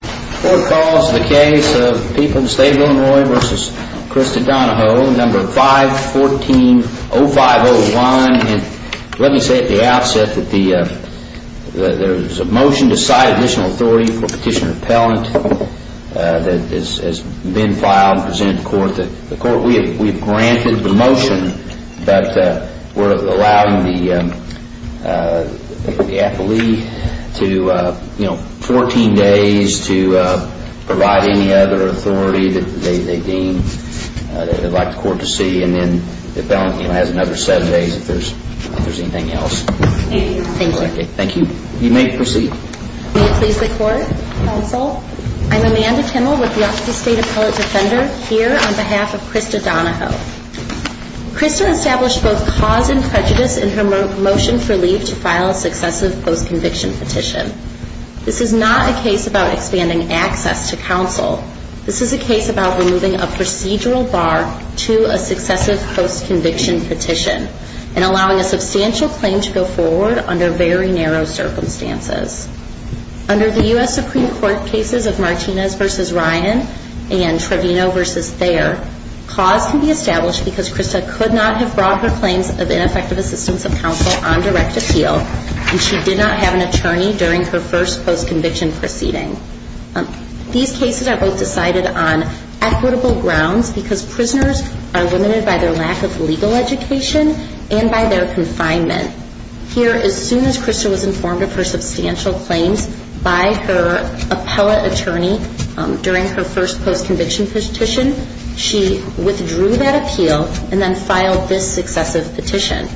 The court calls the case of people in the state of Illinois v. Christa Donoho, No. 514-0501. Let me say at the outset that there is a motion to cite additional authority for Petitioner Pellant that has been filed and presented to the court. We have granted the motion, but we are allowing the appellee 14 days to provide any other authority that they deem they would like the court to see. And then the appellant has another 7 days if there is anything else. Thank you. You may proceed. May it please the court, counsel, I'm Amanda Kimmel with the Office of State Appellate Defender here on behalf of Christa Donoho. Christa established both cause and prejudice in her motion for leave to file a successive post-conviction petition. This is not a case about expanding access to counsel. This is a case about removing a procedural bar to a successive post-conviction petition and allowing a substantial claim to go forward under very narrow circumstances. Under the U.S. Supreme Court cases of Martinez v. Ryan and Trevino v. Thayer, cause can be established because Christa could not have brought her claims of ineffective assistance of counsel on direct appeal and she did not have an attorney during her first post-conviction proceeding. These cases are both decided on equitable grounds because prisoners are limited by their lack of legal education and by their confinement. Here, as soon as Christa was informed of her substantial claims by her appellate attorney during her first post-conviction petition, she withdrew that appeal and then filed this successive petition.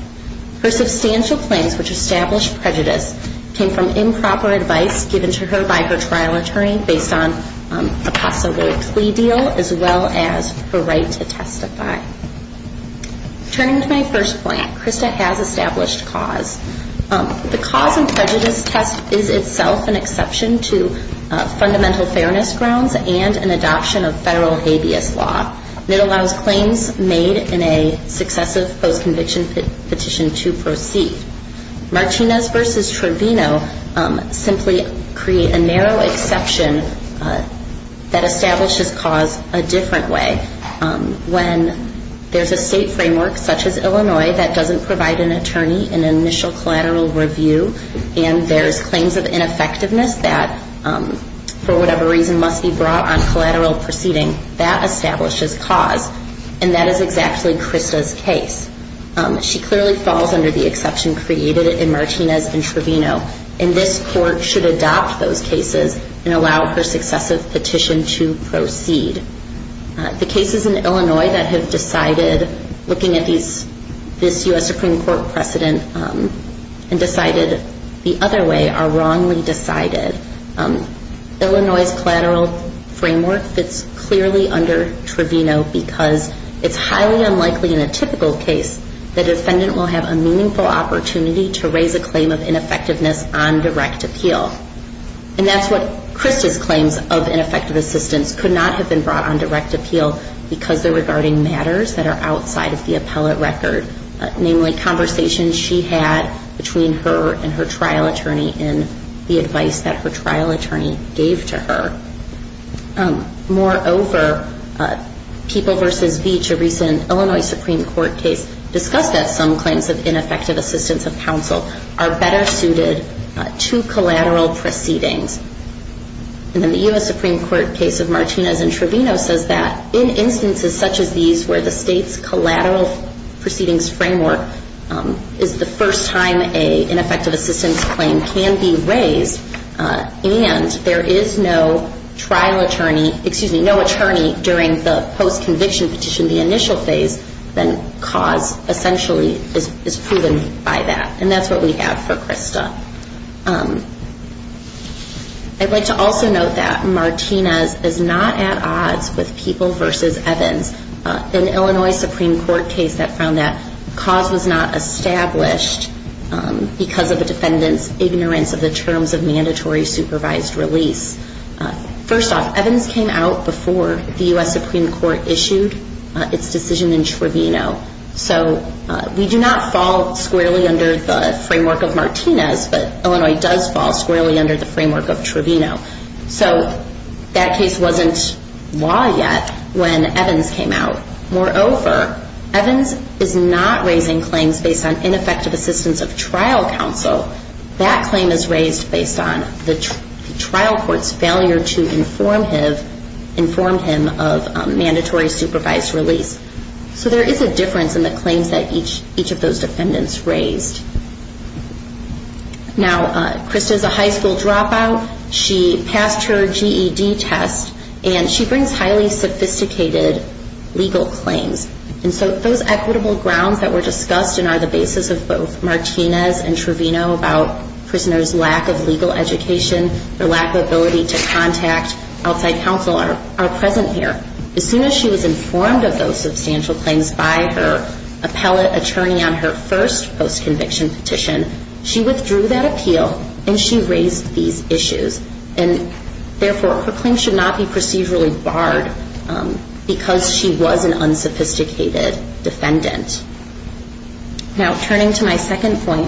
Her substantial claims, which established prejudice, came from improper advice given to her by her trial attorney based on a possible plea deal as well as her right to testify. Turning to my first point, Christa has established cause. The cause and prejudice test is itself an exception to fundamental fairness grounds and an adoption of federal habeas law. It allows claims made in a successive post-conviction petition to proceed. Martinez v. Trevino simply create a narrow exception that establishes cause a different way. When there's a state framework such as Illinois that doesn't provide an attorney in an initial collateral review and there's claims of ineffectiveness that, for whatever reason, must be brought on collateral proceeding, that establishes cause and that is exactly Christa's case. She clearly falls under the exception created in Martinez v. Trevino and this court should adopt those cases and allow her successive petition to proceed. The cases in Illinois that have decided looking at this U.S. Supreme Court precedent and decided the other way are wrongly decided. Illinois' collateral framework fits clearly under Trevino because it's highly unlikely in a typical case that a defendant will have a meaningful opportunity to raise a claim of ineffectiveness on direct appeal. And that's what Christa's claims of ineffective assistance could not have been brought on direct appeal because they're regarding matters that are outside of the appellate record, namely conversations she had between her and her trial attorney in the advice that her trial attorney gave to her. Moreover, People v. Beach, a recent Illinois Supreme Court case, discussed that some claims of ineffective assistance of counsel are better suited to collateral proceedings. And then the U.S. Supreme Court case of Martinez v. Trevino says that in instances such as these where the state's collateral proceedings framework is the first time an ineffective assistance claim can be raised and there is no trial attorney, excuse me, no attorney during the post-conviction petition, the initial phase, then cause essentially is proven by that. And that's what we have for Christa. I'd like to also note that Martinez is not at odds with People v. Evans, an Illinois Supreme Court case that found that cause was not established because of a defendant's ignorance of the terms of mandatory supervised release. First off, Evans came out before the U.S. Supreme Court issued its decision in Trevino. So we do not fall squarely under the framework of Martinez, but Illinois does fall squarely under the framework of Trevino. So that case wasn't law yet when Evans came out. Moreover, Evans is not raising claims based on ineffective assistance of trial counsel. That claim is raised based on the trial court's failure to inform him of mandatory supervised release. So there is a difference in the claims that each of those defendants raised. Now, Christa is a high school dropout. She passed her GED test and she brings highly sophisticated legal claims. And so those equitable grounds that were discussed and are the basis of both Martinez and Trevino about prisoners' lack of legal education or lack of ability to contact outside counsel are present here. As soon as she was informed of those substantial claims by her appellate attorney on her first post-conviction petition, she withdrew that appeal and she raised these issues. And therefore, her claims should not be procedurally barred because she was an unsophisticated defendant. Now, turning to my second point,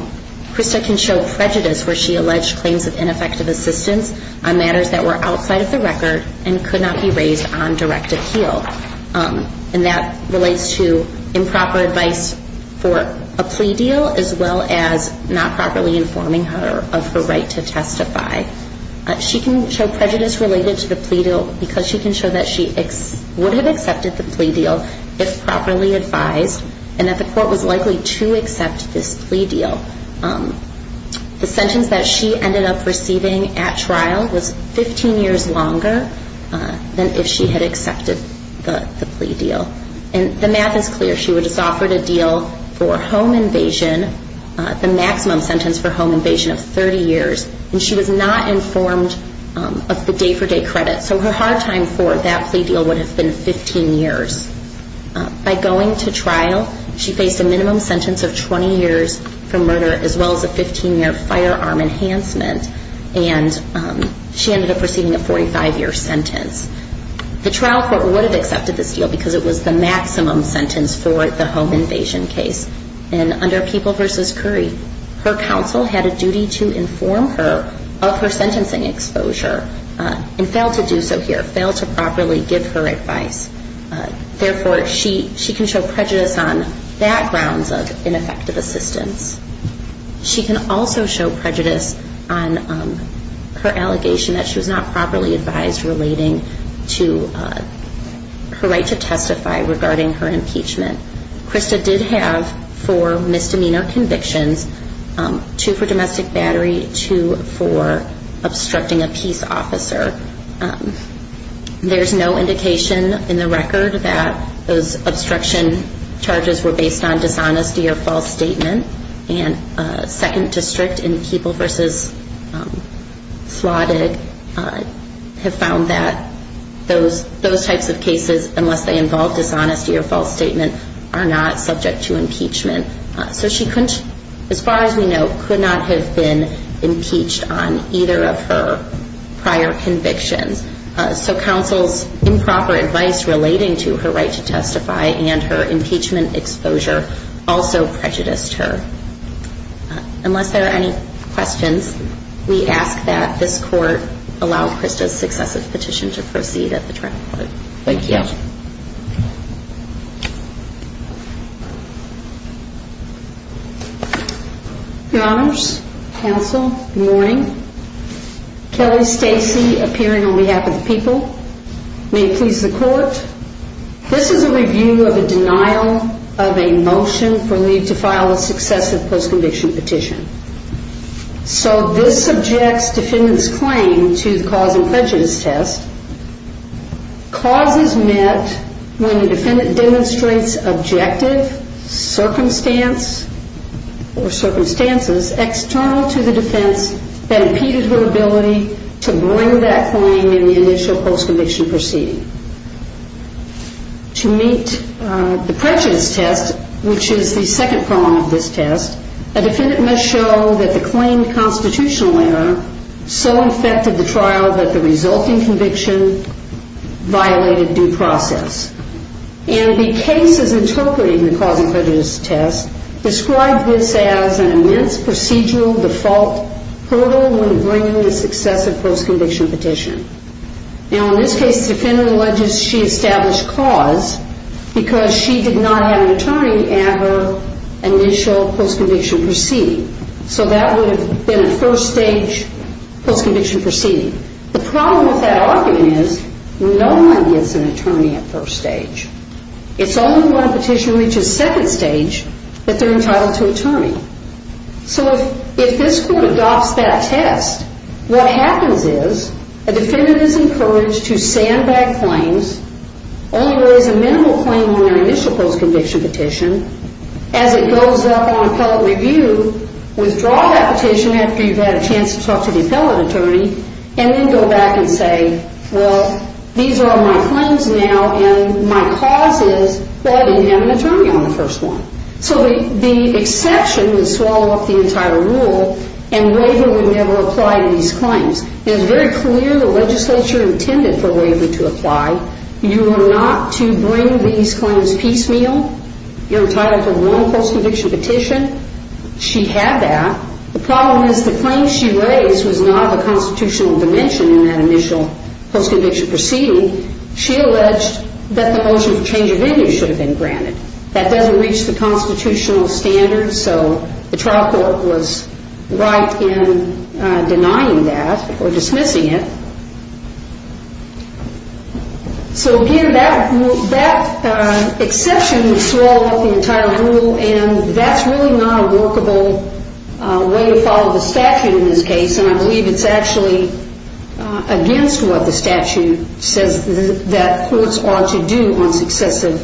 Christa can show prejudice where she alleged claims of ineffective assistance on matters that were outside of the record and could not be raised on direct appeal. And that relates to improper advice for a plea deal as well as not properly informing her of her right to testify. She can show prejudice related to the plea deal because she can show that she would have accepted the plea deal if properly advised and that the court was likely to accept this plea deal. The sentence that she ended up receiving at trial was 15 years longer than if she had accepted the plea deal. And the math is clear. She was offered a deal for home invasion, the maximum sentence for home invasion of 30 years, and she was not informed of the day-for-day credit. So her hard time for that plea deal would have been 15 years. By going to trial, she faced a minimum sentence of 20 years for murder as well as a 15-year firearm enhancement. And she ended up receiving a 45-year sentence. The trial court would have accepted this deal because it was the maximum sentence for the home invasion case. And under People v. Curry, her counsel had a duty to inform her of her sentencing exposure and failed to do so here, failed to properly give her advice. Therefore, she can show prejudice on backgrounds of ineffective assistance. She can also show prejudice on her allegation that she was not properly advised relating to her right to testify regarding her impeachment. Krista did have four misdemeanor convictions, two for domestic battery, two for obstructing a peace officer. There's no indication in the record that those obstruction charges were based on dishonesty or false statement. And second district in People v. Slodig have found that those types of cases, unless they involve dishonesty or false statement, are not subject to impeachment. So she, as far as we know, could not have been impeached on either of her prior convictions. So counsel's improper advice relating to her right to testify and her impeachment exposure also prejudiced her. Unless there are any questions, we ask that this court allow Krista's successive petition to proceed at the trial court. Thank you. Your Honors, counsel, good morning. Kelly Stacey appearing on behalf of the people. May it please the court. This is a review of a denial of a motion for Lee to file a successive post-conviction petition. So this subjects defendant's claim to the cause and prejudice test. Causes met when the defendant demonstrates objective circumstance or circumstances external to the defense that impeded her ability to bring that claim in the initial post-conviction proceeding. To meet the prejudice test, which is the second prong of this test, a defendant must show that the claimed constitutional error so affected the trial that the resulting conviction violated due process. And the cases interpreting the cause and prejudice test describe this as an immense procedural default hurdle when bringing a successive post-conviction petition. Now in this case, the defendant alleges she established cause because she did not have an attorney at her initial post-conviction proceeding. So that would have been a first stage post-conviction proceeding. The problem with that argument is no one gets an attorney at first stage. It's only when a petition reaches second stage that they're entitled to an attorney. So if this court adopts that test, what happens is a defendant is encouraged to sandbag claims, only raise a minimal claim on their initial post-conviction petition, as it goes up on appellate review, withdraw that petition after you've had a chance to talk to the appellate attorney, and then go back and say, well, these are my claims now, and my cause is, well, I didn't have an attorney on the first one. So the exception would swallow up the entire rule, and waiver would never apply to these claims. It is very clear the legislature intended for waiver to apply. You are not to bring these claims piecemeal. You're entitled to one post-conviction petition. She had that. The problem is the claim she raised was not of a constitutional dimension in that initial post-conviction proceeding. She alleged that the motion for change of venue should have been granted. That doesn't reach the constitutional standards, so the trial court was right in denying that or dismissing it. So, again, that exception would swallow up the entire rule, and that's really not a workable way to follow the statute in this case, and I believe it's actually against what the statute says that courts ought to do on successive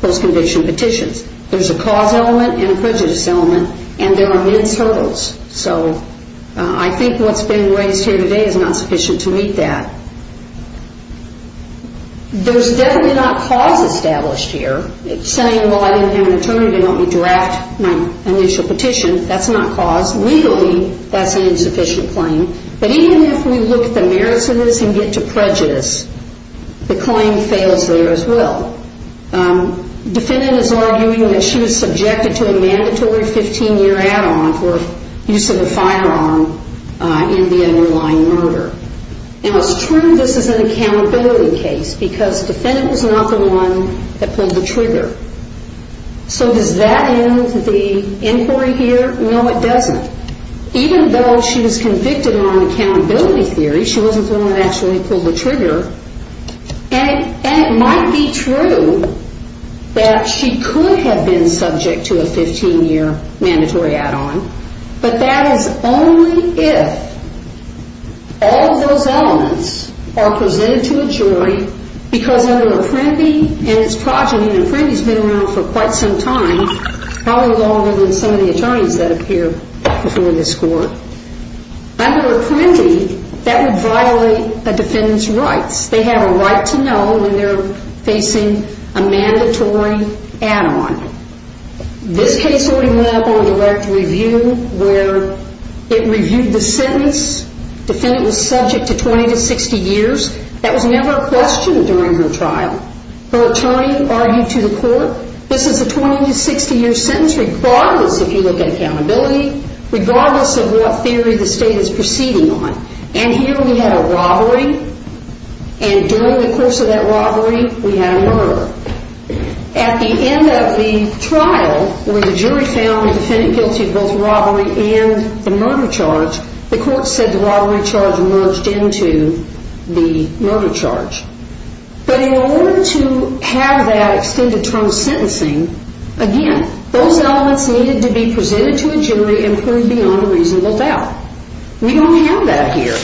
post-conviction petitions. There's a cause element and a prejudice element, and there are immense hurdles. So I think what's being raised here today is not sufficient to meet that. There's definitely not cause established here. It's saying, well, I didn't have an attorney, they want me to draft my initial petition. That's not cause. Legally, that's an insufficient claim. But even if we look at the merits of this and get to prejudice, the claim fails there as well. Defendant is arguing that she was subjected to a mandatory 15-year add-on for use of a firearm in the underlying murder. Now, it's true this is an accountability case, because defendant was not the one that pulled the trigger. So does that end the inquiry here? No, it doesn't. Even though she was convicted on accountability theory, she wasn't the one that actually pulled the trigger. And it might be true that she could have been subject to a 15-year mandatory add-on, but that is only if all of those elements are presented to a jury, because under Apprendi, and it's progeny, and Apprendi's been around for quite some time, probably longer than some of the attorneys that appeared before this Court, under Apprendi, that would violate a defendant's rights. They have a right to know when they're facing a mandatory add-on. This case already went up on direct review, where it reviewed the sentence. Defendant was subject to 20 to 60 years. That was never a question during her trial. Her attorney argued to the Court, this is a 20 to 60 year sentence, regardless if you look at accountability, regardless of what theory the State is proceeding on. And here we had a robbery, and during the course of that robbery, we had a murder. At the end of the trial, where the jury found the defendant guilty of both robbery and the murder charge, the Court said the robbery charge merged into the murder charge. But in order to have that extended term sentencing, again, those elements needed to be presented to a jury and proved beyond a reasonable doubt. We don't have that here.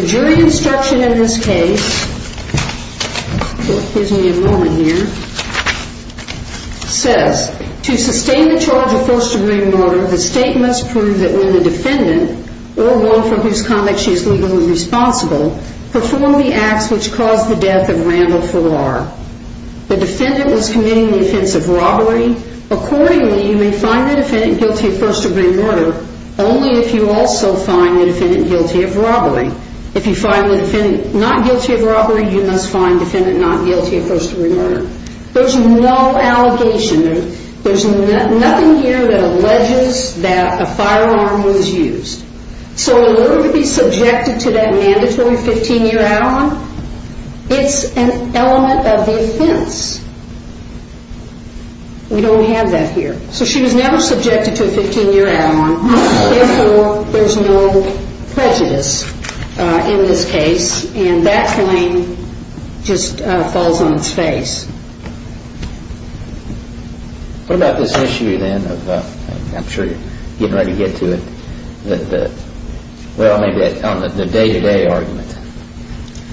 The jury instruction in this case, gives me a moment here, says, to sustain the charge of first degree murder, the State must prove that when the defendant, or one from whose conduct she is legally responsible, performed the acts which caused the death of Randall Farrar. The defendant was committing the offense of robbery. Accordingly, you may find the defendant guilty of first degree murder, only if you also find the defendant guilty of robbery. If you find the defendant not guilty of robbery, you must find the defendant not guilty of first degree murder. There's no allegation. There's nothing here that alleges that a firearm was used. So in order to be subjected to that mandatory 15-year add-on, it's an element of the offense. We don't have that here. So she was never subjected to a 15-year add-on. Therefore, there's no prejudice in this case. And that claim just falls on its face. What about this issue, then? I'm sure you're getting ready to get to it. Well, maybe on the day-to-day argument.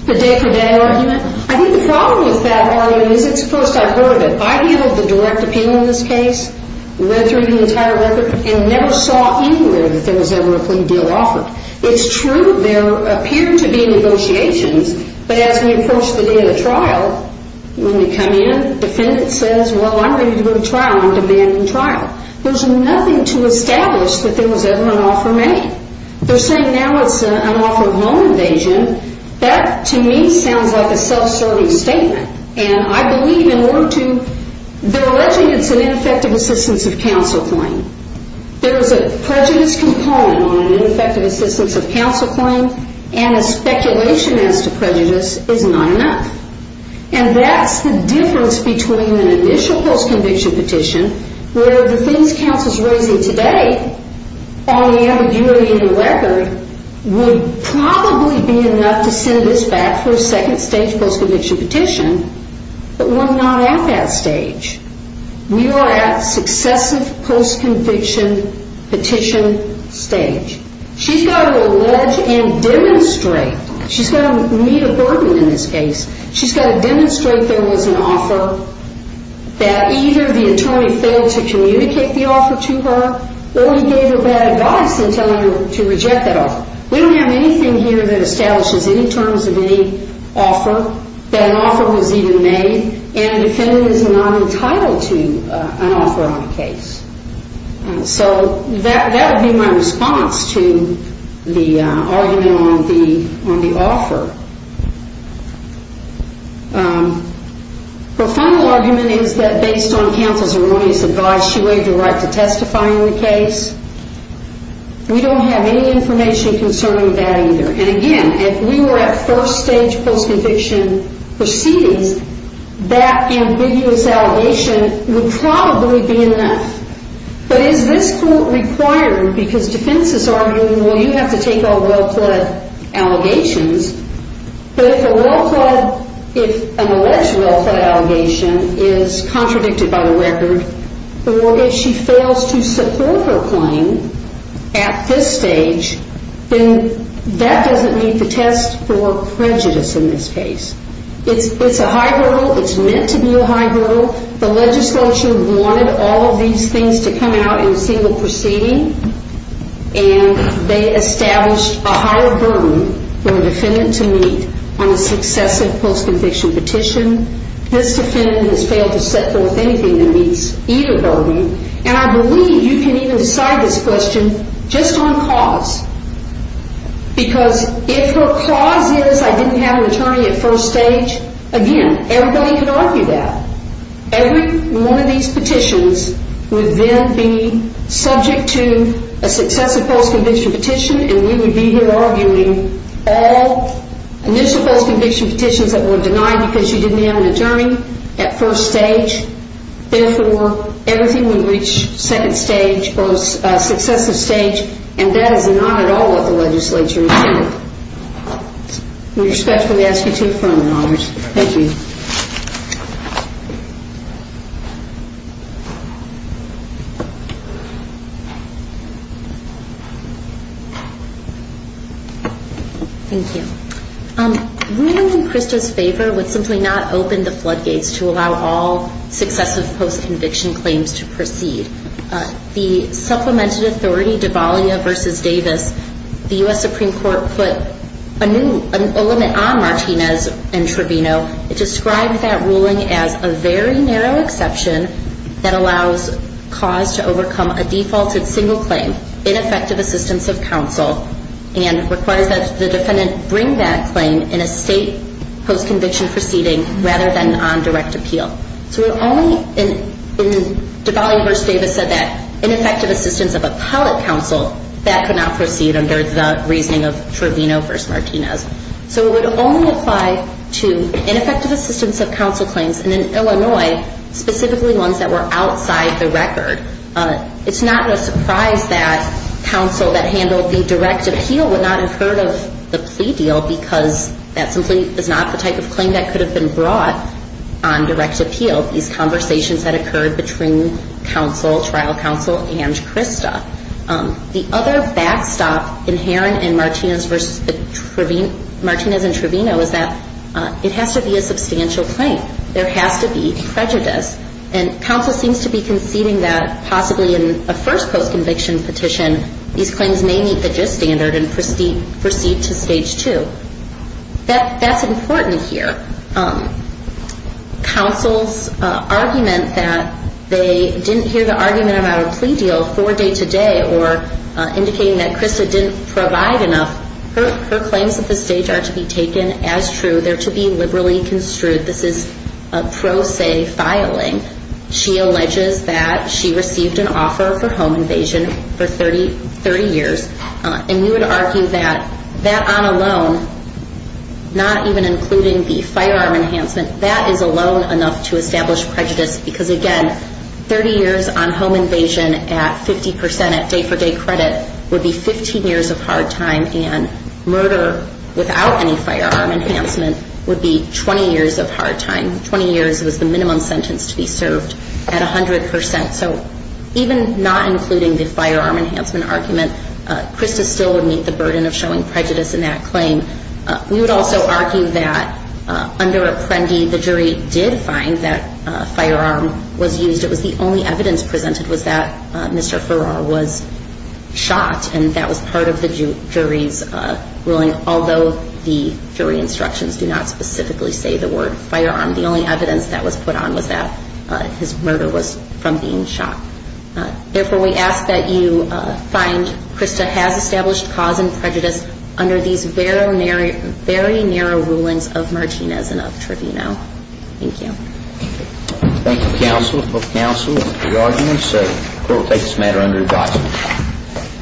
The day-to-day argument? I think the problem with that argument is it's first I've heard of it. I've handled the direct appeal in this case, read through the entire record, and never saw anywhere that there was ever a plea deal offered. It's true there appeared to be negotiations, but as we approach the day of the trial, when we come in, the defendant says, well, I'm ready to go to trial. I'm demanding trial. There's nothing to establish that there was ever an offer made. They're saying now it's an offer of home invasion. That, to me, sounds like a self-serving statement. And I believe in order to, they're alleging it's an ineffective assistance of counsel claim. There is a prejudice component on an ineffective assistance of counsel claim, and a speculation as to prejudice is not enough. And that's the difference between an initial post-conviction petition, where the things counsel's raising today, on the ambiguity of the record, would probably be enough to send us back for a second stage post-conviction petition. But we're not at that stage. We are at successive post-conviction petition stage. She's got to allege and demonstrate. She's got to meet a burden in this case. She's got to demonstrate there was an offer, that either the attorney failed to communicate the offer to her, or he gave her bad advice in telling her to reject that offer. We don't have anything here that establishes any terms of any offer, that an offer was even made, and the defendant is not entitled to an offer on the case. So that would be my response to the argument on the offer. Her final argument is that based on counsel's erroneous advice, she waived her right to testify in the case. We don't have any information concerning that either. And again, if we were at first stage post-conviction proceedings, that ambiguous allegation would probably be enough. But is this court required, because defense is arguing, well, you have to take all well-pled allegations, but if an alleged well-pled allegation is contradicted by the record, or if she fails to support her claim at this stage, then that doesn't meet the test for prejudice in this case. It's a high hurdle. It's meant to be a high hurdle. The legislature wanted all of these things to come out in a single proceeding, and they established a higher burden for a defendant to meet on a successive post-conviction petition. This defendant has failed to set forth anything that meets either burden, and I believe you can even decide this question just on cause. Because if her cause is, I didn't have an attorney at first stage, again, everybody can argue that. Every one of these petitions would then be subject to a successive post-conviction petition, and we would be here arguing all initial post-conviction petitions that were denied because she didn't have an attorney at first stage. Therefore, everything would reach second stage or successive stage, and that is not at all what the legislature intended. We respectfully ask you to confirm, Your Honors. Thank you. Thank you. Ruling in Krista's favor would simply not open the floodgates to allow all successive post-conviction claims to proceed. The supplemented authority, Devalia v. Davis, the U.S. Supreme Court put a limit on Martinez and Trevino. It described that ruling as a very narrow exception that allows cause to overcome a defaulted single claim, ineffective assistance of counsel, and requires that the defendant bring that claim in a state post-conviction proceeding rather than on direct appeal. So it only, Devalia v. Davis said that ineffective assistance of appellate counsel, that could not proceed under the reasoning of Trevino v. Martinez. So it would only apply to ineffective assistance of counsel claims, It's not a surprise that counsel that handled the direct appeal would not have heard of the plea deal because that simply is not the type of claim that could have been brought on direct appeal. These conversations had occurred between counsel, trial counsel, and Krista. The other backstop inherent in Martinez v. Trevino is that it has to be a substantial claim. There has to be prejudice. And counsel seems to be conceding that possibly in a first post-conviction petition, these claims may meet the GIST standard and proceed to Stage 2. That's important here. Counsel's argument that they didn't hear the argument about a plea deal for day-to-day or indicating that Krista didn't provide enough, her claims at this stage are to be taken as true. They're to be liberally construed. This is a pro se filing. She alleges that she received an offer for home invasion for 30 years. And we would argue that that on alone, not even including the firearm enhancement, that is alone enough to establish prejudice because, again, 30 years on home invasion at 50% at day-for-day credit would be 15 years of hard time. And murder without any firearm enhancement would be 20 years of hard time. Twenty years was the minimum sentence to be served at 100%. So even not including the firearm enhancement argument, Krista still would meet the burden of showing prejudice in that claim. We would also argue that under Apprendi, the jury did find that a firearm was used. It was the only evidence presented was that Mr. Farrar was shot, and that was part of the jury's ruling, although the jury instructions do not specifically say the word firearm. The only evidence that was put on was that his murder was from being shot. Therefore, we ask that you find Krista has established cause and prejudice under these very narrow rulings of Martinez and of Trevino. Thank you. Thank you, counsel, for counsel and for your arguments. The court will take this matter under advisement.